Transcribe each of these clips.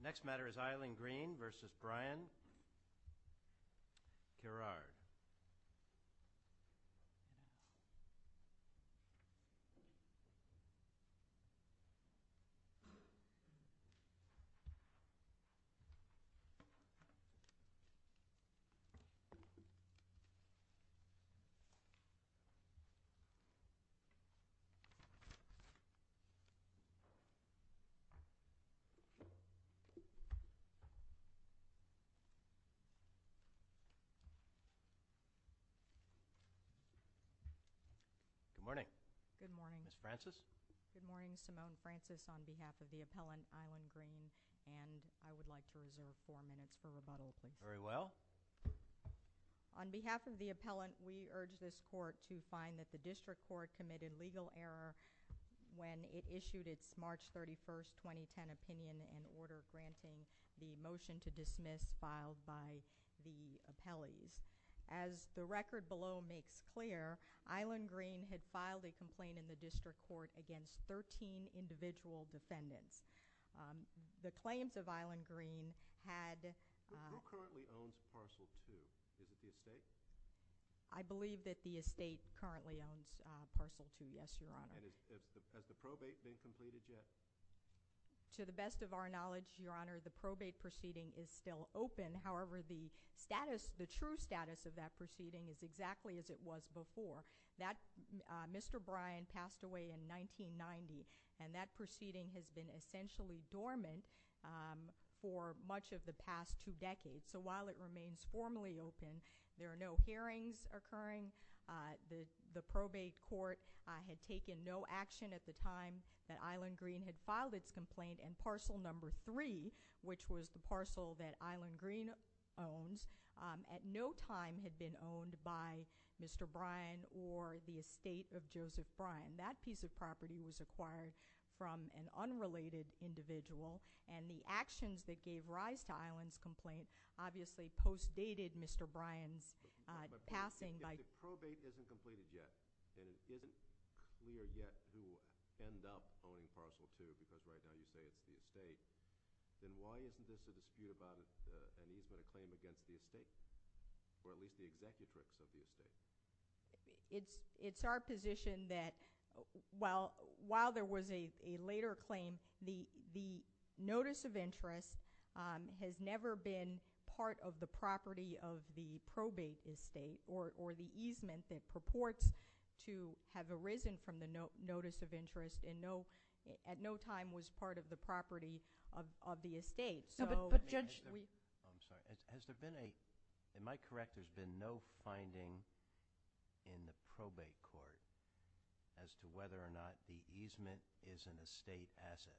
The next matter is Eileen Green versus Brian Gerard. Good morning. Good morning. Ms. Francis? Good morning. Simone Francis on behalf of the appellant Eileen Green. And I would like to reserve four minutes for rebuttal, please. Very well. On behalf of the appellant, we urge this court to find that the district court committed legal error when it issued its March 31st, 2010 opinion and order granting the motion to dismiss filed by the appellees. As the record below makes clear, Eileen Green had filed a complaint in the district court against 13 individual defendants. The claims of Eileen Green had... Is it the estate? I believe that the estate currently owns Parcel 2, yes, Your Honor. And has the probate been completed yet? To the best of our knowledge, Your Honor, the probate proceeding is still open. However, the status, the true status of that proceeding is exactly as it was before. That Mr. Brian passed away in 1990, and that proceeding has been essentially dormant for much of the past two decades. So while it remains formally open, there are no hearings occurring. The probate court had taken no action at the time that Eileen Green had filed its complaint. And Parcel Number 3, which was the parcel that Eileen Green owns, at no time had been owned by Mr. Brian or the estate of Joseph Brian. That piece of property was acquired from an unrelated individual. And the actions that gave rise to Eileen's complaint obviously postdated Mr. Brian's passing. If the probate isn't completed yet, and it isn't clear yet who will end up owning Parcel 2, because right now you say it's the estate, then why isn't this a dispute about an easement of claim against the estate, or at least the executrix of the estate? It's our position that while there was a later claim, the notice of interest has never been part of the property of the probate estate or the easement that purports to have arisen from the notice of interest and at no time was part of the property of the estate. But Judge, we- I'm sorry. Has there been a – am I correct? There's been no finding in the probate court as to whether or not the easement is an estate asset.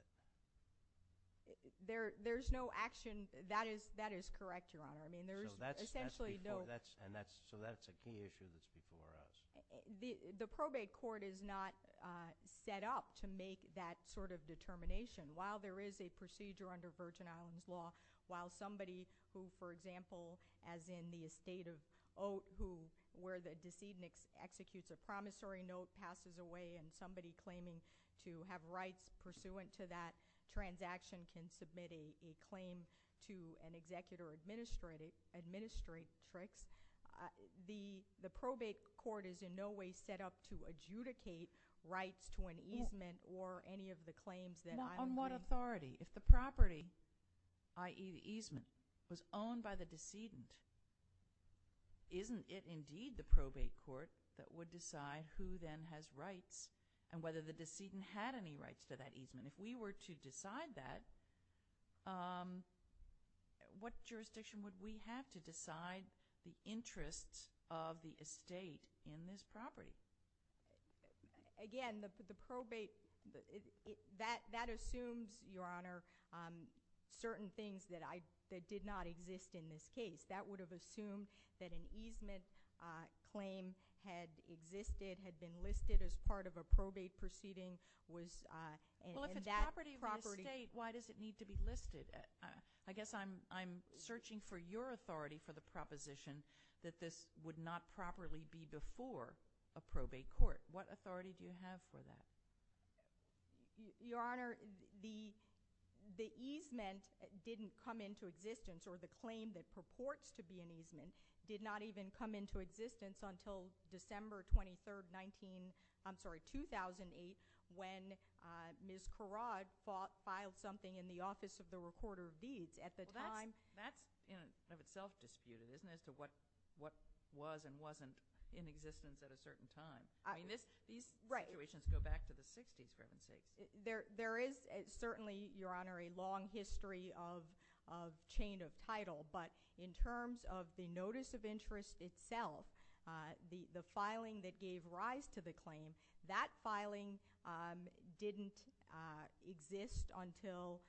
There's no action – that is correct, Your Honor. I mean, there is essentially no- So that's a key issue that's before us. The probate court is not set up to make that sort of determination. While there is a procedure under Virgin Islands law, while somebody who, for example, as in the estate of Oat, where the decedent executes a promissory note, passes away, and somebody claiming to have rights pursuant to that transaction can submit a claim to an executor-administratrix, the probate court is in no way set up to adjudicate rights to an easement or any of the claims that I'm- On what authority? If the property, i.e. the easement, was owned by the decedent, isn't it indeed the probate court that would decide who then has rights and whether the decedent had any rights to that easement? If we were to decide that, what jurisdiction would we have to decide the interests of the estate in this property? Again, the probate, that assumes, Your Honor, certain things that did not exist in this case. That would have assumed that an easement claim had existed, had been listed as part of a probate proceeding. Well, if it's property of the estate, why does it need to be listed? I guess I'm searching for your authority for the proposition that this would not properly be before a probate court. What authority do you have for that? Your Honor, the easement didn't come into existence, or the claim that purports to be an easement, did not even come into existence until December 23, 2008, when Ms. Kharad filed something in the Office of the Recorder of Deeds. Well, that's in and of itself disputed, isn't it? As to what was and wasn't in existence at a certain time. I mean, these situations go back to the 60s, for heaven's sake. There is certainly, Your Honor, a long history of chain of title, but in terms of the notice of interest itself, the filing that gave rise to the claim, that filing didn't exist until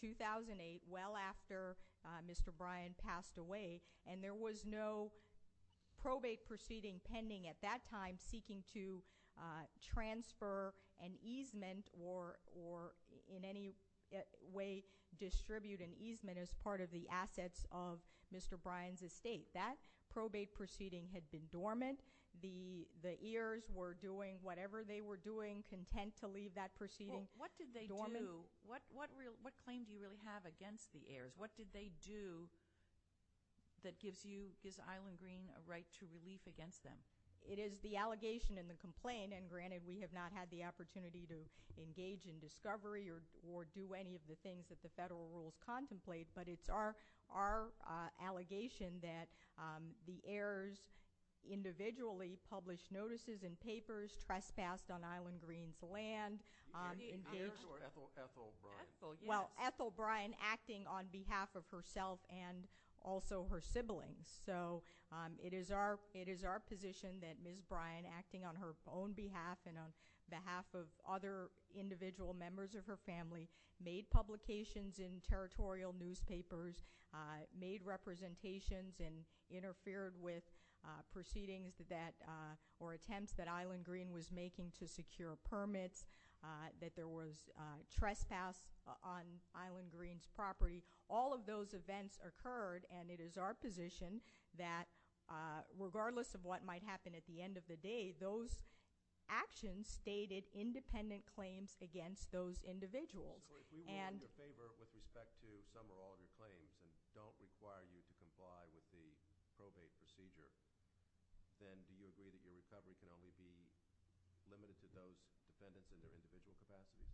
2008, well after Mr. Bryan passed away, and there was no probate proceeding pending at that time seeking to transfer an easement or in any way distribute an easement as part of the assets of Mr. Bryan's estate. That probate proceeding had been dormant. The heirs were doing whatever they were doing, content to leave that proceeding dormant. Well, what did they do? What claim do you really have against the heirs? What did they do that gives you, gives Island Green a right to relief against them? It is the allegation and the complaint, and granted we have not had the opportunity to engage in discovery or do any of the things that the federal rules contemplate, but it's our allegation that the heirs individually published notices and papers, trespassed on Island Green's land, engaged— Do you mean the heirs or Ethel Bryan? Ethel, yes. Well, Ethel Bryan acting on behalf of herself and also her siblings. So it is our position that Ms. Bryan, acting on her own behalf and on behalf of other individual members of her family, made publications in territorial newspapers, made representations and interfered with proceedings or attempts that Island Green was making to secure permits, that there was trespass on Island Green's property. All of those events occurred, and it is our position that regardless of what might happen at the end of the day, those actions stated independent claims against those individuals. So if we were in your favor with respect to some or all of your claims and don't require you to comply with the probate procedure, then do you agree that your recovery can only be limited to those defendants in their individual capacity?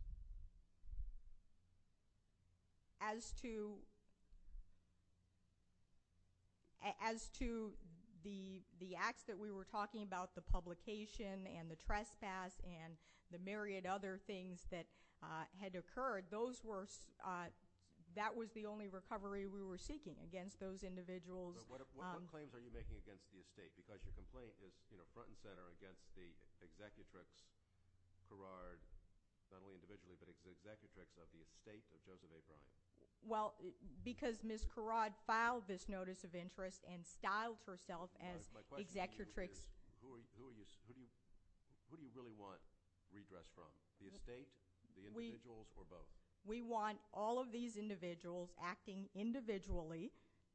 As to the acts that we were talking about, the publication and the trespass and the myriad other things that had occurred, that was the only recovery we were seeking against those individuals. But what claims are you making against the estate? Because your complaint is front and center against the executrix, not only individually, but the executrix of the estate of Joseph A. Bryant. Well, because Ms. Karrad filed this notice of interest and styled herself as executrix. Who do you really want redress from? The estate, the individuals, or both? We want all of these individuals acting individually,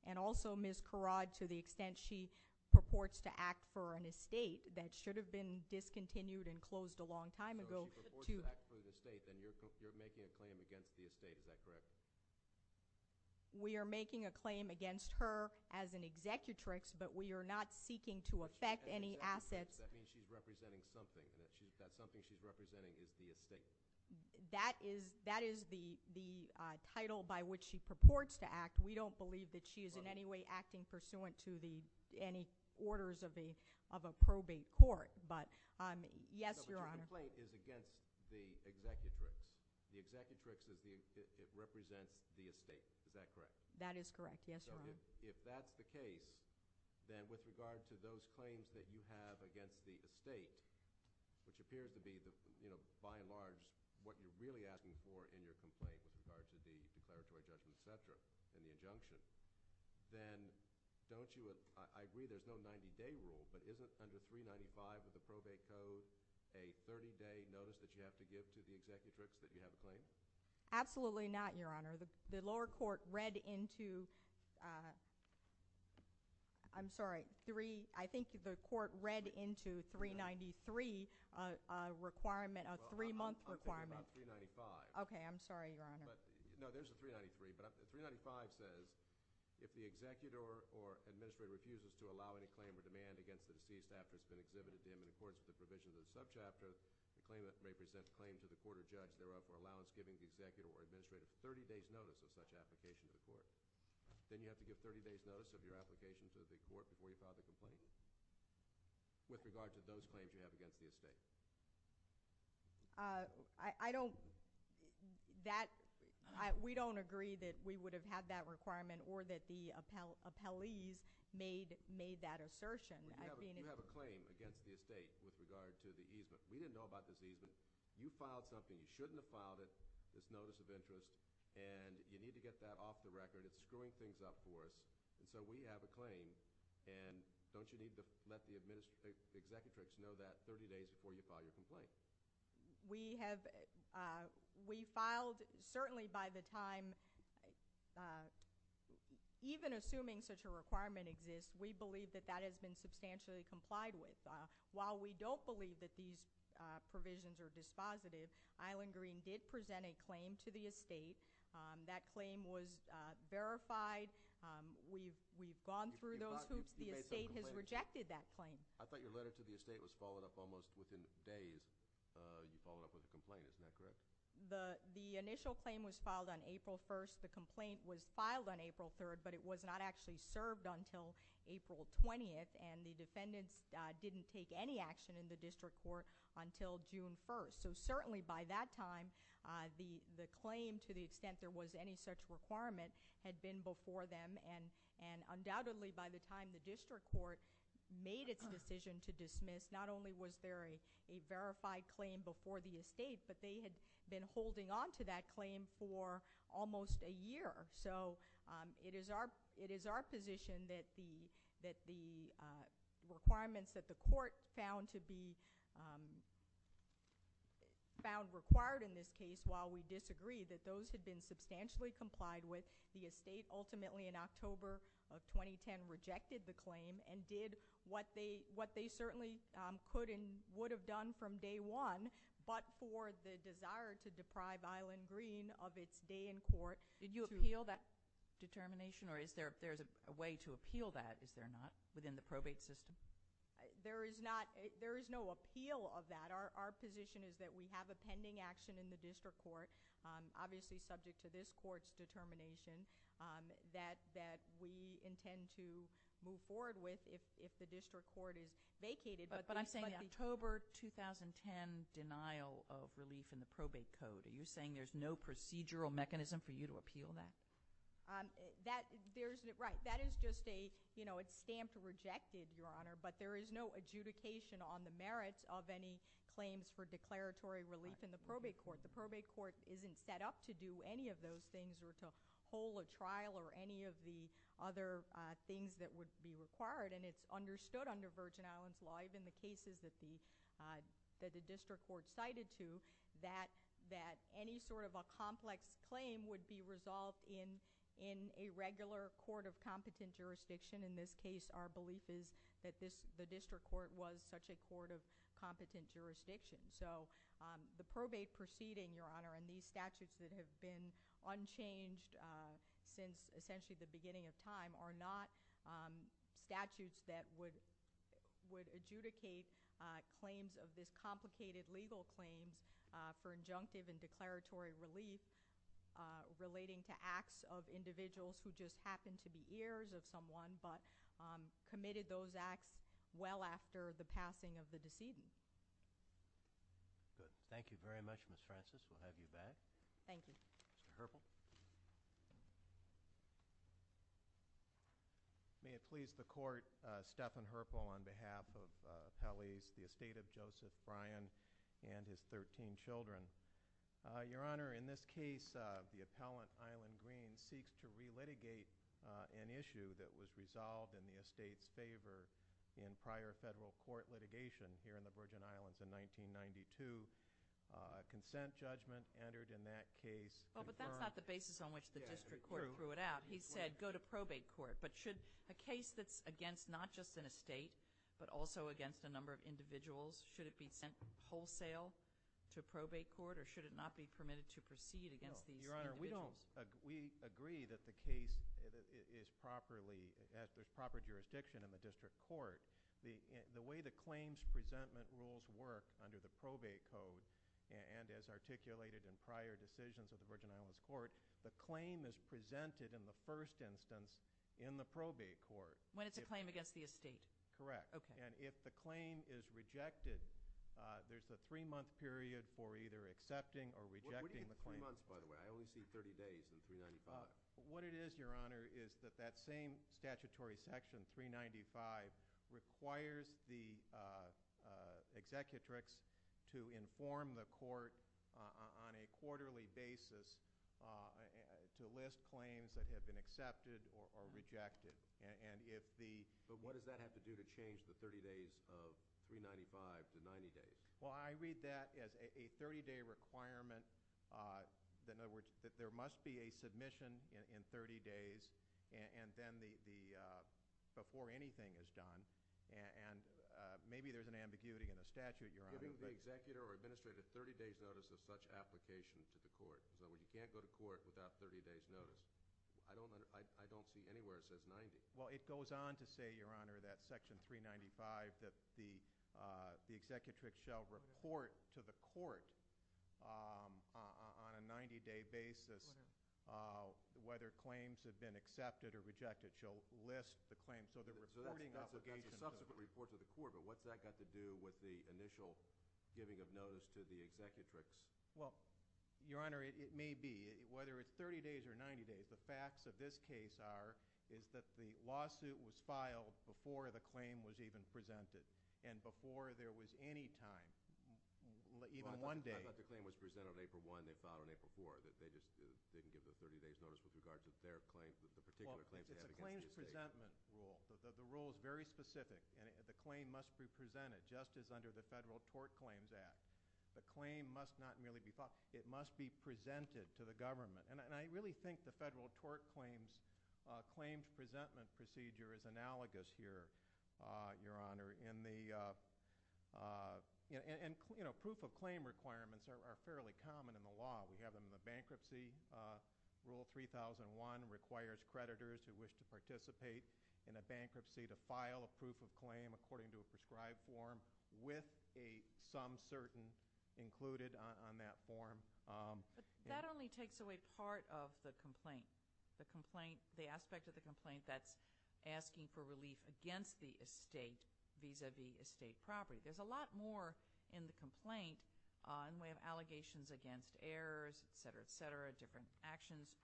and also Ms. Karrad to the extent she purports to act for an estate that should have been discontinued and closed a long time ago. So if she purports to act for the estate, then you're making a claim against the estate, is that correct? We are making a claim against her as an executrix, but we are not seeking to affect any assets. That means she's representing something, and that something she's representing is the estate. That is the title by which she purports to act. We don't believe that she is in any way acting pursuant to any orders of a probate court, but yes, Your Honor. But your complaint is against the executrix. The executrix represents the estate, is that correct? That is correct, yes, Your Honor. So if that's the case, then with regard to those claims that you have against the estate, which appeared to be, by and large, what you're really asking for in your complaint with regard to the declaratory judgment, et cetera, and the injunction, then don't you have, I agree there's no 90-day rule, but isn't under 395 with the probate code a 30-day notice that you have to give to the executrix that you have a claim? Absolutely not, Your Honor. The lower court read into, I'm sorry, three, I think the court read into 393 a requirement, a three-month requirement. Well, I'm talking about 395. Okay, I'm sorry, Your Honor. No, there's a 393, but 395 says, if the executor or administrator refuses to allow any claim or demand against the deceased after it's been exhibited to him in accordance with the provisions of the subchapter, the claimant may present a claim to the court or judge, thereof for allowance giving the executor or administrator a 30-day notice of such application to the court. Then you have to give a 30-day notice of your application to the court before you file the complaint with regard to those claims you have against the estate. I don't, that, we don't agree that we would have had that requirement or that the appellees made that assertion. You have a claim against the estate with regard to the easement. We didn't know about this easement. You filed something. You shouldn't have filed it, this notice of interest, and you need to get that off the record. It's screwing things up for us, and so we have a claim, and don't you need to let the executrix know that 30 days before you file your complaint? We have, we filed, certainly by the time, even assuming such a requirement exists, we believe that that has been substantially complied with. While we don't believe that these provisions are dispositive, Island Green did present a claim to the estate. That claim was verified. We've gone through those hoops. The estate has rejected that claim. I thought your letter to the estate was followed up almost within days. You followed up with a complaint. Isn't that correct? The initial claim was filed on April 1st. The complaint was filed on April 3rd, but it was not actually served until April 20th, and the defendants didn't take any action in the district court until June 1st. So certainly by that time, the claim, to the extent there was any such requirement, had been before them, and undoubtedly by the time the district court made its decision to dismiss, not only was there a verified claim before the estate, but they had been holding on to that claim for almost a year. So it is our position that the requirements that the court found to be required in this case, while we disagree, that those had been substantially complied with. The estate ultimately in October of 2010 rejected the claim and did what they certainly could and would have done from day one, but for the desire to deprive Island Green of its day in court. Did you appeal that determination, or is there a way to appeal that? Is there not within the probate system? There is no appeal of that. Our position is that we have a pending action in the district court, obviously subject to this court's determination, that we intend to move forward with if the district court is vacated. But I'm saying the October 2010 denial of relief in the probate code, are you saying there's no procedural mechanism for you to appeal that? Right. That is just a, you know, it's stamped rejected, Your Honor, but there is no adjudication on the merits of any claims for declaratory relief in the probate court. The probate court isn't set up to do any of those things or to hold a trial or any of the other things that would be required, and it's understood under Virgin Islands law, even the cases that the district court cited to, that any sort of a complex claim would be resolved in a regular court of competent jurisdiction. In this case, our belief is that the district court was such a court of competent jurisdiction. So the probate proceeding, Your Honor, and these statutes that have been unchanged since essentially the beginning of time are not statutes that would adjudicate claims of this complicated legal claims for injunctive and declaratory relief relating to acts of individuals who just happen to be heirs of someone but committed those acts well after the passing of the decedent. Good. Thank you very much, Ms. Francis. We'll have you back. Thank you. Mr. Herpel. May it please the court, Stephan Herpel on behalf of appellees, the estate of Joseph Bryan and his 13 children. Your Honor, in this case, the appellant, Island Green, seeks to relitigate an issue that was resolved in the estate's favor in prior federal court litigation here in the Virgin Islands in 1992. A consent judgment entered in that case. But that's not the basis on which the district court threw it out. He said go to probate court. But should a case that's against not just an estate but also against a number of individuals, should it be sent wholesale to probate court or should it not be permitted to proceed against these individuals? Your Honor, we agree that the case is properly at the proper jurisdiction in the district court. The way the claims presentment rules work under the probate code and as articulated in prior decisions of the Virgin Islands Court, the claim is presented in the first instance in the probate court. When it's a claim against the estate? Correct. Okay. And if the claim is rejected, there's the three-month period for either accepting or rejecting the claim. Three months, by the way. I only see 30 days in 395. What it is, Your Honor, is that that same statutory section, 395, requires the executrix to inform the court on a quarterly basis to list claims that have been accepted or rejected. But what does that have to do to change the 30 days of 395 to 90 days? Well, I read that as a 30-day requirement. In other words, there must be a submission in 30 days and then the before anything is done. And maybe there's an ambiguity in the statute, Your Honor. Giving the executor or administrator 30 days' notice of such application to the court. In other words, you can't go to court without 30 days' notice. I don't see anywhere it says 90. Well, it goes on to say, Your Honor, that Section 395, that the executrix shall report to the court on a 90-day basis whether claims have been accepted or rejected. She'll list the claims. So the reporting obligation. So that's a subsequent report to the court. But what's that got to do with the initial giving of notice to the executrix? Well, Your Honor, it may be. Whether it's 30 days or 90 days, the facts of this case are is that the lawsuit was filed before the claim was even presented and before there was any time, even one day. Well, I thought the claim was presented on April 1. They filed it on April 4. They just didn't give the 30 days' notice with regards to their claims, the particular claims they had against the estate. Well, it's a claims presentment rule. So the rule is very specific. And the claim must be presented just as under the Federal Tort Claims Act. The claim must not merely be filed. It must be presented to the government. And I really think the Federal Tort Claims Claims Presentment Procedure is analogous here, Your Honor. And proof-of-claim requirements are fairly common in the law. We have them in the bankruptcy. Rule 3001 requires creditors who wish to participate in a bankruptcy to file a proof-of-claim according to a prescribed form with a some certain included on that form. But that only takes away part of the complaint, the aspect of the complaint that's asking for relief against the estate vis-à-vis estate property. There's a lot more in the complaint in the way of allegations against heirs, et cetera, et cetera, different actions.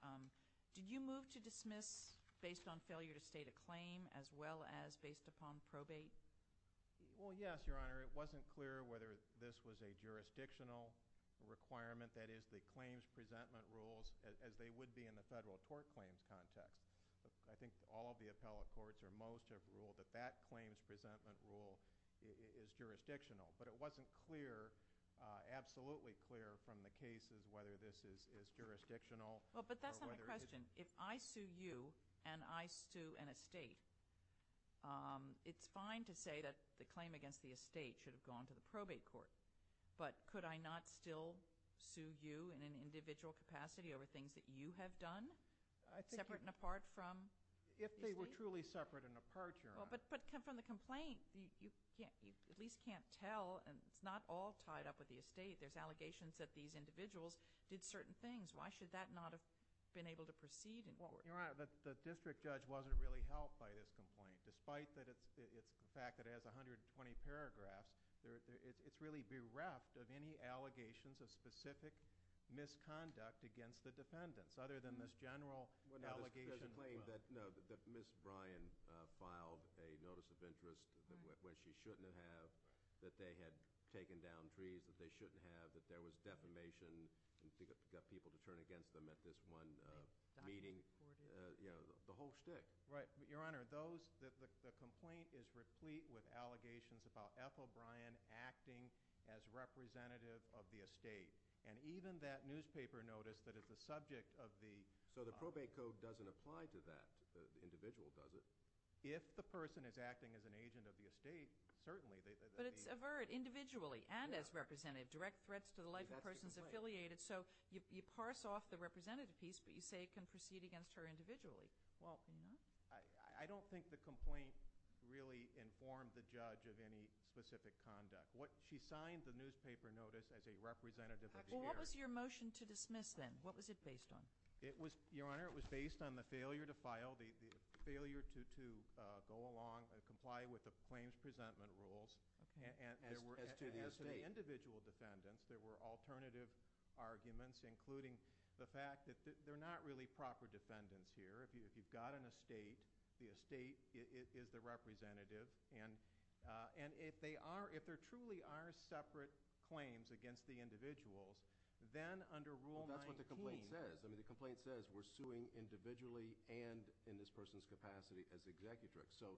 Did you move to dismiss based on failure to state a claim as well as based upon probate? Well, yes, Your Honor. It wasn't clear whether this was a jurisdictional requirement, that is, the claims presentment rules, as they would be in the Federal Tort Claims context. I think all of the appellate courts or most have ruled that that claims presentment rule is jurisdictional. But it wasn't clear, absolutely clear, from the cases whether this is jurisdictional. Well, but that's not the question. If I sue you and I sue an estate, it's fine to say that the claim against the estate should have gone to the probate court. But could I not still sue you in an individual capacity over things that you have done separate and apart from these things? If they were truly separate and apart, Your Honor. But from the complaint, you at least can't tell. It's not all tied up with the estate. There's allegations that these individuals did certain things. Why should that not have been able to proceed in court? Your Honor, the district judge wasn't really helped by this complaint. Despite the fact that it has 120 paragraphs, it's really bereft of any allegations of specific misconduct against the defendants other than this general allegation. No, that Ms. O'Brien filed a notice of interest when she shouldn't have, that they had taken down trees that they shouldn't have, that there was defamation and got people to turn against them at this one meeting. You know, the whole shtick. Right. Your Honor, the complaint is replete with allegations about Ethel O'Brien acting as representative of the estate. And even that newspaper notice that is the subject of the… So the probate code doesn't apply to that individual, does it? If the person is acting as an agent of the estate, certainly. But it's avert individually and as representative. Direct threats to the life of persons affiliated. So you parse off the representative piece, but you say it can proceed against her individually. I don't think the complaint really informed the judge of any specific conduct. She signed the newspaper notice as a representative of the area. What was your motion to dismiss then? What was it based on? Your Honor, it was based on the failure to file, the failure to go along and comply with the claims presentment rules. As to the estate. And as to the individual defendants, there were alternative arguments, including the fact that they're not really proper defendants here. If you've got an estate, the estate is the representative. And if there truly are separate claims against the individuals, then under Rule 19… The complaint says we're suing individually and in this person's capacity as the executive director. So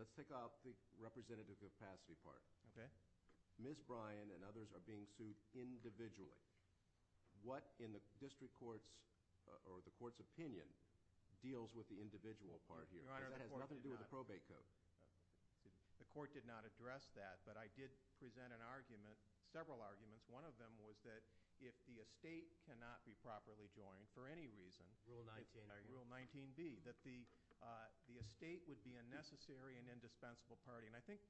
let's take off the representative capacity part. Ms. Bryan and others are being sued individually. What in the district court's or the court's opinion deals with the individual part here? Because that has nothing to do with the probate code. The court did not address that, but I did present an argument, several arguments. One of them was that if the estate cannot be properly joined for any reason… Rule 19B. Rule 19B. That the estate would be a necessary and indispensable party. And I think,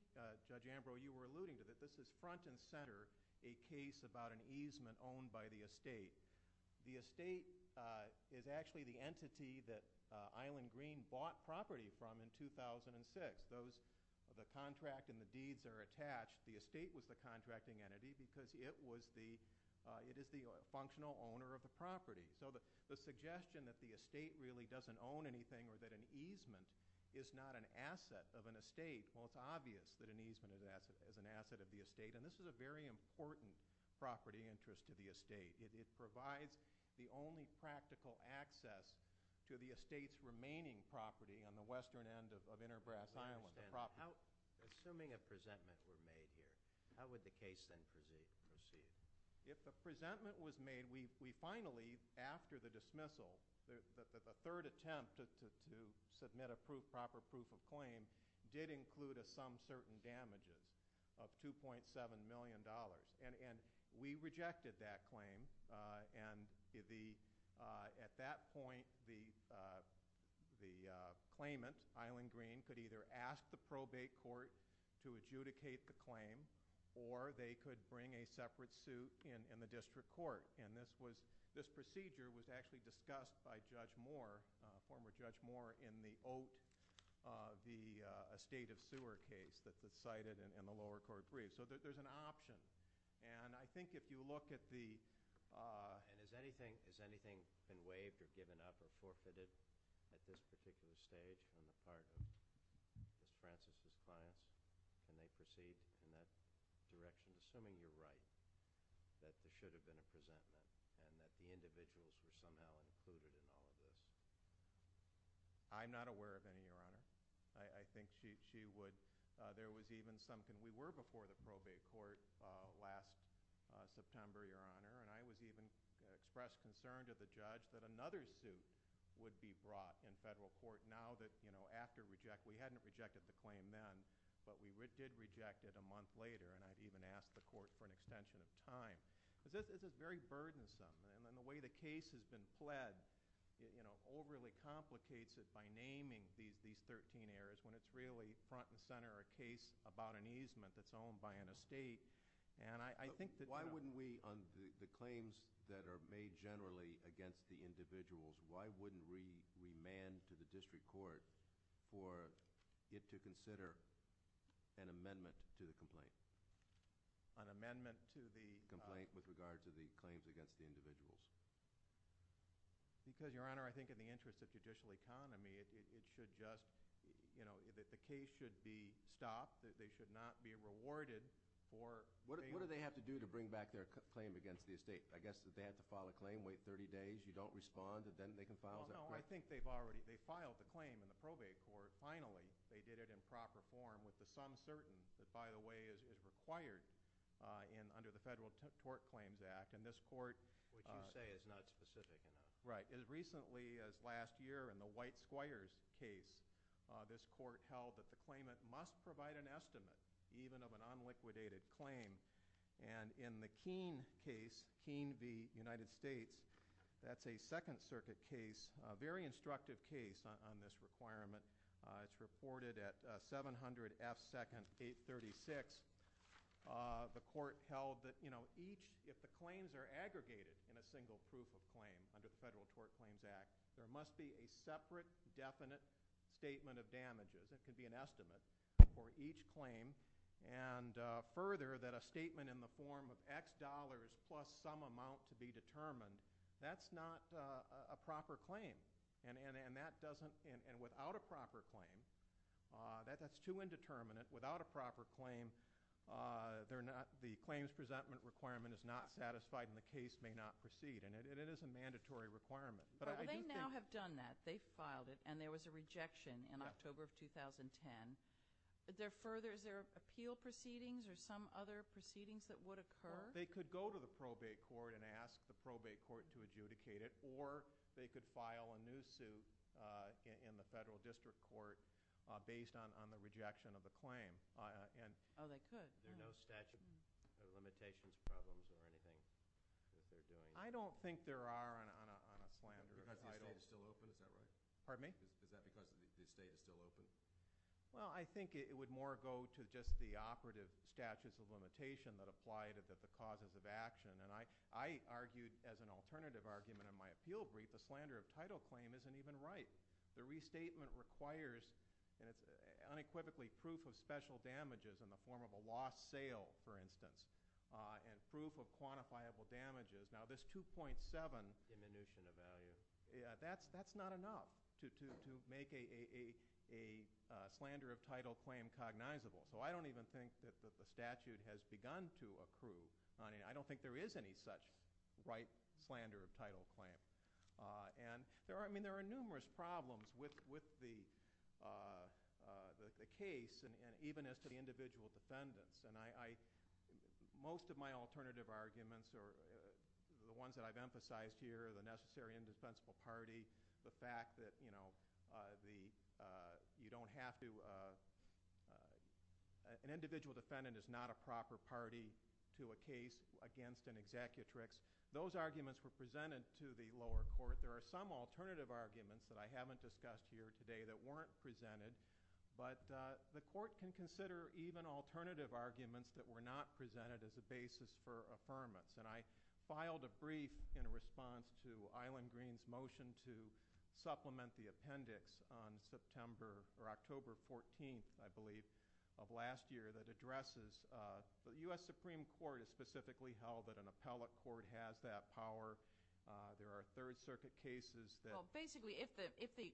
Judge Ambrose, you were alluding to this. This is front and center a case about an easement owned by the estate. The estate is actually the entity that Island Green bought property from in 2006. The contract and the deeds are attached. The estate was the contracting entity because it is the functional owner of the property. So the suggestion that the estate really doesn't own anything or that an easement is not an asset of an estate, well, it's obvious that an easement is an asset of the estate. And this is a very important property interest to the estate. It provides the only practical access to the estate's remaining property on the western end of Inner Brass Island, the property. Assuming a presentment were made here, how would the case then proceed? If the presentment was made, we finally, after the dismissal, the third attempt to submit a proper proof of claim did include some certain damages of $2.7 million. And we rejected that claim. And at that point, the claimant, Island Green, could either ask the probate court to adjudicate the claim or they could bring a separate suit in the district court. And this procedure was actually discussed by Judge Moore, former Judge Moore, in the Oat estate of sewer case that's cited in the lower court brief. So there's an option. And I think if you look at the – And has anything been waived or given up or forfeited at this particular stage in the part of Ms. Francis' clients? Can they proceed in that direction, assuming you're right, that there should have been a presentment and that the individuals were somehow included in all of this? I'm not aware of any, Your Honor. I think she would – there was even some – we were before the probate court last September, Your Honor, and I was even expressed concern to the judge that another suit would be brought in federal court now that, you know, after – we hadn't rejected the claim then, but we did reject it a month later. And I even asked the court for an extension of time. This is very burdensome. And the way the case has been fled, you know, overly complicates it by naming these 13 areas when it's really front and center a case about an easement that's owned by an estate. And I think that – Why wouldn't we, on the claims that are made generally against the individuals, why wouldn't we remand to the district court for it to consider an amendment to the complaint? An amendment to the – Because, Your Honor, I think in the interest of judicial economy, it should just – you know, the case should be stopped. They should not be rewarded for – What do they have to do to bring back their claim against the estate? I guess that they have to file a claim, wait 30 days, you don't respond, and then they can file their claim. No, I think they've already – they filed the claim in the probate court. Finally, they did it in proper form with the sum certain that, by the way, is required under the Federal Tort Claims Act. And this court – What you say is not specific enough. Right. As recently as last year in the White Squires case, this court held that the claimant must provide an estimate, even of an unliquidated claim. And in the Keene case, Keene v. United States, that's a Second Circuit case, a very instructive case on this requirement. It's reported at 700 F. Second 836. The court held that each – If the claims are aggregated in a single proof of claim under the Federal Tort Claims Act, there must be a separate definite statement of damages. It could be an estimate for each claim. And further, that a statement in the form of X dollars plus some amount to be determined, that's not a proper claim. And that doesn't – And without a proper claim, that's too indeterminate. Without a proper claim, the claims presentment requirement is not satisfied and the case may not proceed. And it is a mandatory requirement. But I do think – Well, they now have done that. They filed it, and there was a rejection in October of 2010. Is there appeal proceedings or some other proceedings that would occur? They could go to the probate court and ask the probate court to adjudicate it, or they could file a new suit in the federal district court based on the rejection of the claim. Oh, they could. There are no statute of limitations problems or anything that they're doing? I don't think there are on a slander. Is the state still open? Is that right? Pardon me? Is that because the state is still open? Well, I think it would more go to just the operative statutes of limitation that apply to the causes of action. And I argued as an alternative argument in my appeal brief a slander of title claim isn't even right. The restatement requires unequivocally proof of special damages in the form of a lost sale, for instance, and proof of quantifiable damages. Now, this 2.7 – Diminution of value. That's not enough to make a slander of title claim cognizable. So I don't even think that the statute has begun to accrue. I don't think there is any such right slander of title claim. And there are numerous problems with the case, even as to the individual defendants. And most of my alternative arguments are the ones that I've emphasized here, the necessary indefensible party, the fact that you don't have to – an individual defendant is not a proper party to a case against an executrix. Those arguments were presented to the lower court. There are some alternative arguments that I haven't discussed here today that weren't presented. But the court can consider even alternative arguments that were not presented as a basis for affirmance. And I filed a brief in response to Island Green's motion to supplement the appendix on September – I believe – of last year that addresses – the U.S. Supreme Court has specifically held that an appellate court has that power. There are Third Circuit cases that – Well, basically, if the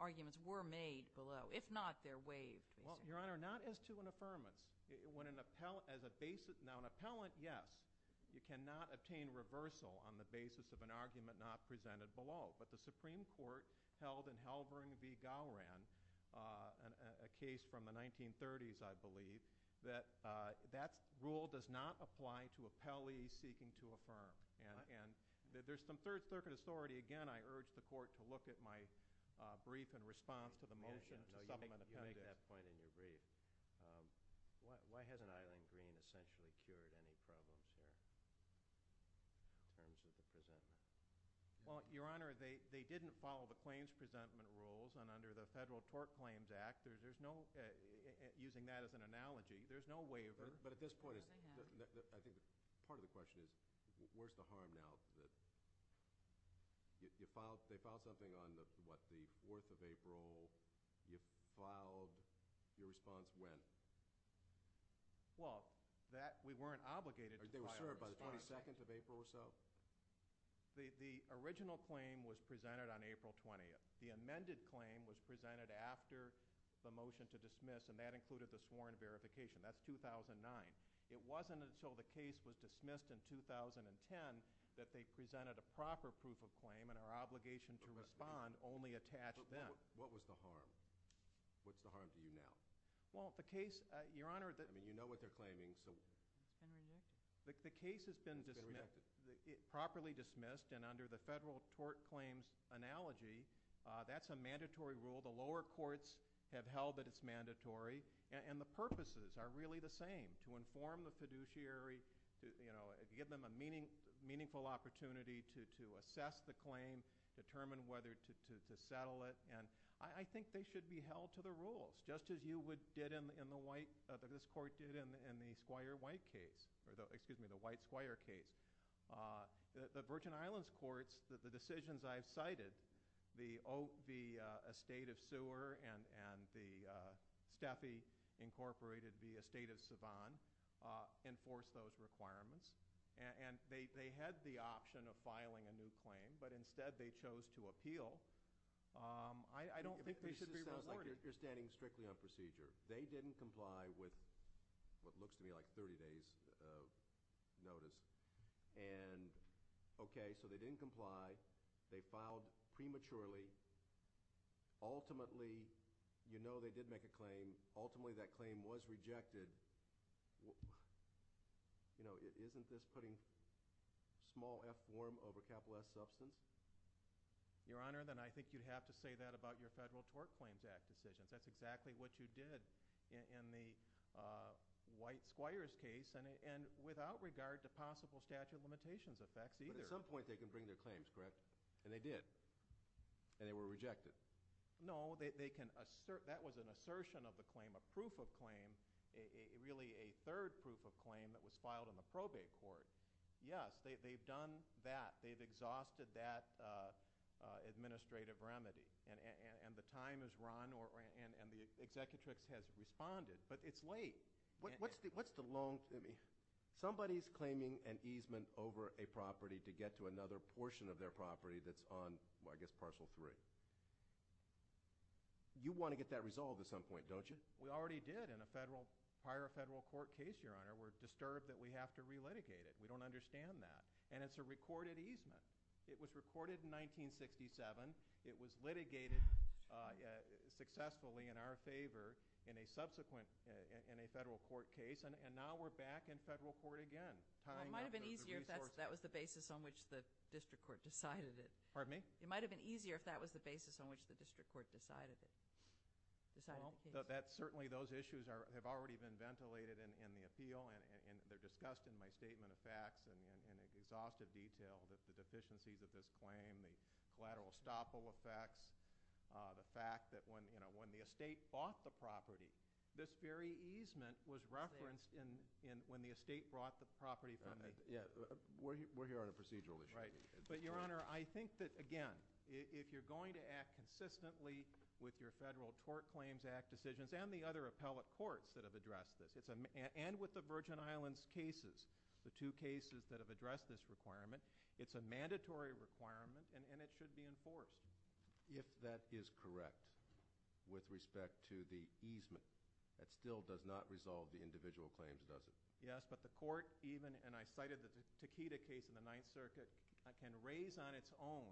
arguments were made below. If not, they're waived. Well, Your Honor, not as to an affirmance. When an appellate as a basis – now, an appellate, yes, you cannot obtain reversal on the basis of an argument not presented below. But the Supreme Court held in Halvern v. Gowran, a case from the 1930s, I believe, that that rule does not apply to appellees seeking to affirm. And there's some Third Circuit authority – again, I urge the court to look at my brief in response to the motion to supplement the appendix. No, you make that point in your brief. Why hasn't Island Green essentially cured any problems there in terms of the presumption? Well, Your Honor, they didn't follow the claims presentment rules. And under the Federal Tort Claims Act, there's no – using that as an analogy, there's no waiver. But at this point, I think part of the question is where's the harm now? They filed something on, what, the 4th of April. You filed your response when? On the 22nd of April or so? The original claim was presented on April 20th. The amended claim was presented after the motion to dismiss, and that included the sworn verification. That's 2009. It wasn't until the case was dismissed in 2010 that they presented a proper proof of claim and our obligation to respond only attached then. But what was the harm? What's the harm to you now? Well, the case – Your Honor – I mean, you know what they're claiming, so – The case has been properly dismissed, and under the Federal Tort Claims analogy, that's a mandatory rule. The lower courts have held that it's mandatory, and the purposes are really the same, to inform the fiduciary, to give them a meaningful opportunity to assess the claim, determine whether to settle it. And I think they should be held to the rules, just as you did in the white – that this court did in the Squire White case – excuse me, the White-Squire case. The Virgin Islands courts, the decisions I've cited, the estate of Sewer and the – Steffi incorporated the estate of Savan, enforced those requirements, and they had the option of filing a new claim, I don't think they should be rewarded. It sounds like you're standing strictly on procedure. They didn't comply with what looks to me like 30 days' notice. And, okay, so they didn't comply, they filed prematurely. Ultimately, you know they did make a claim. Ultimately, that claim was rejected. You know, isn't this putting small f form over capital S substance? Your Honor, then I think you'd have to say that about your Federal Tort Claims Act decisions. That's exactly what you did in the White-Squires case, and without regard to possible statute of limitations effects either. But at some point they can bring their claims, correct? And they did. And they were rejected. No, they can – that was an assertion of the claim, a proof of claim, really a third proof of claim that was filed in the probate court. Yes, they've done that. They've exhausted that administrative remedy. And the time has run, and the Executrix has responded, but it's late. What's the long – somebody's claiming an easement over a property to get to another portion of their property that's on, I guess, Parcel 3. You want to get that resolved at some point, don't you? We already did in a federal – prior to a federal court case, Your Honor. We're disturbed that we have to relitigate it. We don't understand that. And it's a recorded easement. It was recorded in 1967. It was litigated successfully in our favor in a subsequent – in a federal court case. And now we're back in federal court again tying up the resources. Well, it might have been easier if that was the basis on which the district court decided it. Pardon me? It might have been easier if that was the basis on which the district court decided it. Well, certainly those issues have already been ventilated in the appeal, and they're discussed in my statement of facts in exhaustive detail, that the deficiencies of this claim, the collateral estoppel effects, the fact that when the estate bought the property, this very easement was referenced when the estate brought the property from the – We're here on a procedural issue. Right. But, Your Honor, I think that, again, if you're going to act consistently with your Federal Tort Claims Act decisions and the other appellate courts that have addressed this, and with the Virgin Islands cases, the two cases that have addressed this requirement, it's a mandatory requirement and it should be enforced. If that is correct with respect to the easement, that still does not resolve the individual claims, does it? Yes, but the court even – and I cited the Takeda case in the Ninth Circuit that can raise on its own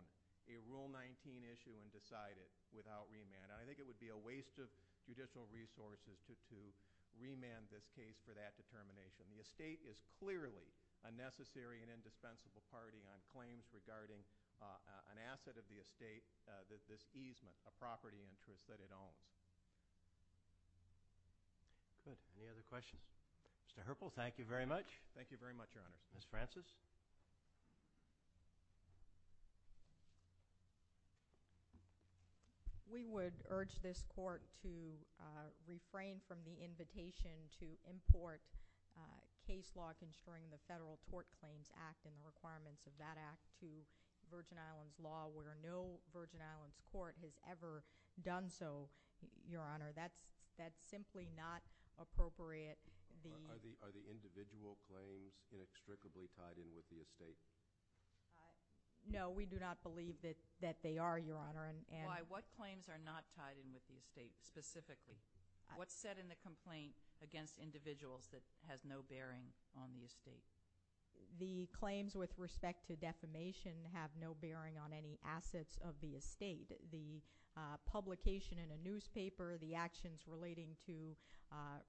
a Rule 19 issue and decide it without remand, and I think it would be a waste of judicial resources to remand this case for that determination. The estate is clearly a necessary and indispensable party on claims regarding an asset of the estate, this easement, a property interest that it owns. Good. Any other questions? Mr. Herpel, thank you very much. Thank you very much, Your Honor. Ms. Francis? We would urge this court to refrain from the invitation to import case law concerning the Federal Tort Claims Act and the requirements of that act to Virgin Islands law where no Virgin Islands court has ever done so, Your Honor. That's simply not appropriate. Are the individual claims inextricably tied in with the estate? No, we do not believe that they are, Your Honor. Why? What claims are not tied in with the estate specifically? What's said in the complaint against individuals that has no bearing on the estate? The claims with respect to defamation have no bearing on any assets of the estate. The publication in a newspaper, the actions relating to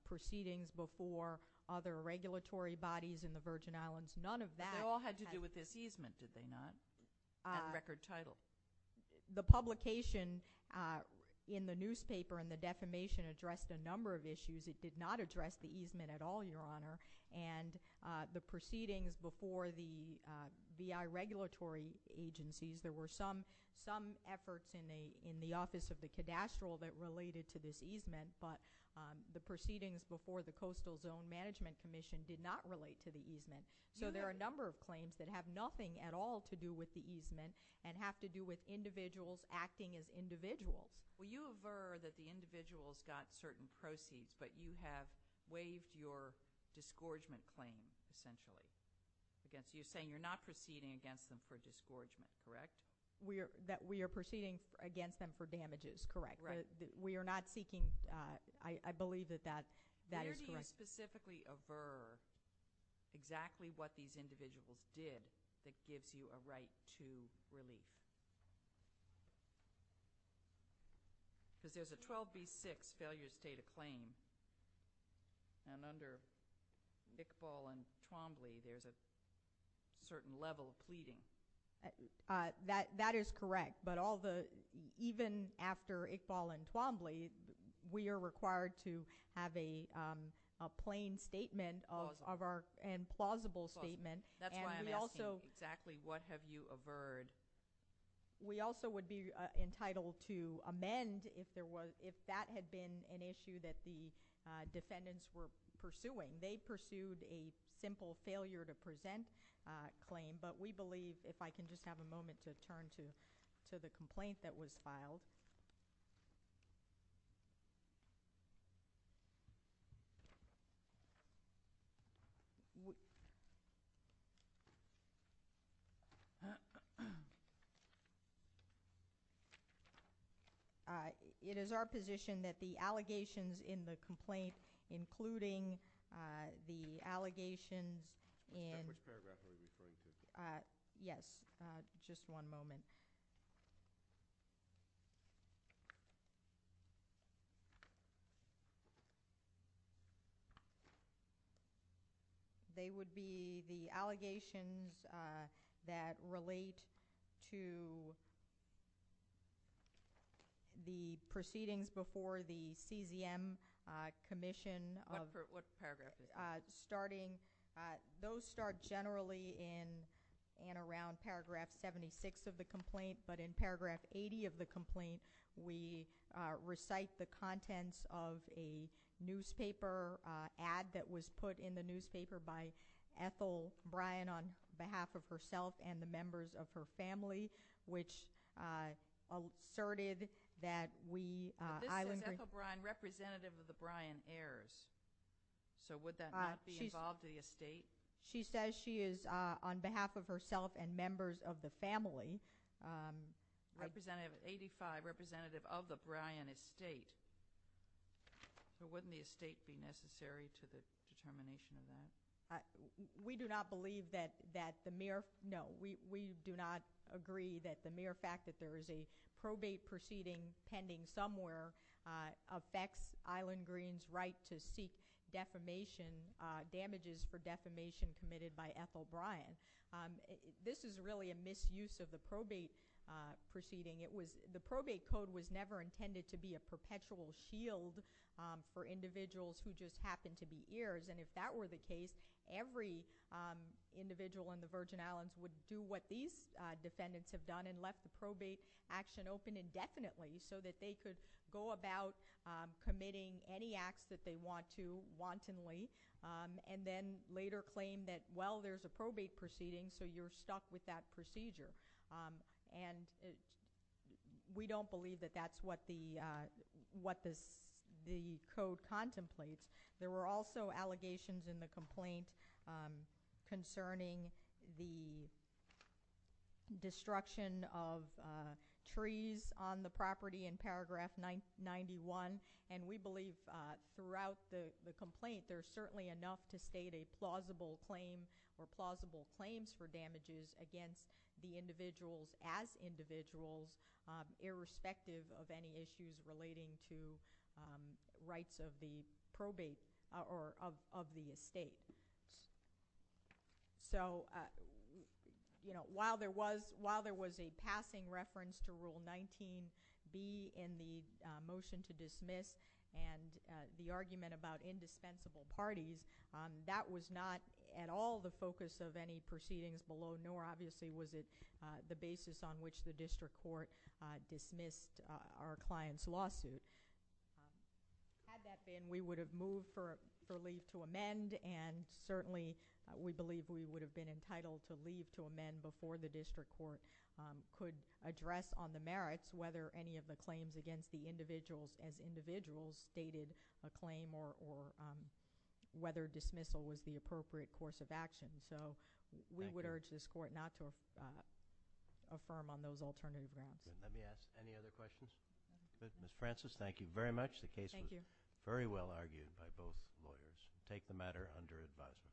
proceedings before other regulatory bodies in the Virgin Islands, none of that. They all had to do with this easement, did they not, at record title? The publication in the newspaper and the defamation addressed a number of issues. It did not address the easement at all, Your Honor. And the proceedings before the VI regulatory agencies, there were some efforts in the Office of the Cadastral that related to this easement, but the proceedings before the Coastal Zone Management Commission did not relate to the easement. So there are a number of claims that have nothing at all to do with the easement and have to do with individuals acting as individuals. Well, you aver that the individuals got certain proceeds, but you have waived your disgorgement claim, essentially. So you're saying you're not proceeding against them for disgorgement, correct? We are proceeding against them for damages, correct. We are not seeking – I believe that that is correct. Where do you specifically aver exactly what these individuals did that gives you a right to relief? Because there's a 12B6 Failure to State a Claim, and under Iqbal and Twombly, there's a certain level of pleading. That is correct, but even after Iqbal and Twombly, we are required to have a plain statement and plausible statement. That's why I'm asking exactly what have you averred. We also would be entitled to amend if that had been an issue that the defendants were pursuing. They pursued a simple failure to present claim, but we believe – if I can just have a moment to turn to the complaint that was filed. It is our position that the allegations in the complaint, they would be the allegations that relate to the proceedings before the CZM Commission of – What paragraph is that? Those start generally in and around paragraph 76 of the complaint, but in paragraph 80 of the complaint, we recite the contents of a newspaper ad that was put in the newspaper by Ethel Bryan on behalf of herself and the members of her family, which asserted that we – This is Ethel Bryan, representative of the Bryan Heirs. So would that not be involved in the estate? She says she is on behalf of herself and members of the family. Representative 85, representative of the Bryan estate, wouldn't the estate be necessary to the determination of that? We do not believe that the mere – no. We do not agree that the mere fact that there is a probate proceeding pending somewhere affects Island Green's right to seek defamation, damages for defamation committed by Ethel Bryan. This is really a misuse of the probate proceeding. The probate code was never intended to be a perpetual shield for individuals who just happen to be heirs, and if that were the case, every individual in the Virgin Islands would do what these defendants have done and left the probate action open indefinitely so that they could go about committing any acts that they want to wantonly and then later claim that, well, there's a probate proceeding, so you're stuck with that procedure. And we don't believe that that's what the code contemplates. There were also allegations in the complaint concerning the destruction of trees on the property in paragraph 91, and we believe throughout the complaint there's certainly enough to state a plausible claim or plausible claims for damages against the individuals as individuals irrespective of any issues relating to rights of the probate or of the estate. So while there was a passing reference to Rule 19b in the motion to dismiss and the argument about indispensable parties, that was not at all the focus of any proceedings below, nor obviously was it the basis on which the district court dismissed our client's lawsuit. Had that been, we would have moved for leave to amend, and certainly we believe we would have been entitled to leave to amend before the district court could address on the merits whether any of the claims against the individuals as individuals stated a claim or whether dismissal was the appropriate course of action. So we would urge this court not to affirm on those alternative grounds. Let me ask any other questions. Ms. Francis, thank you very much. The case was very well argued by both lawyers. Take the matter under advisement.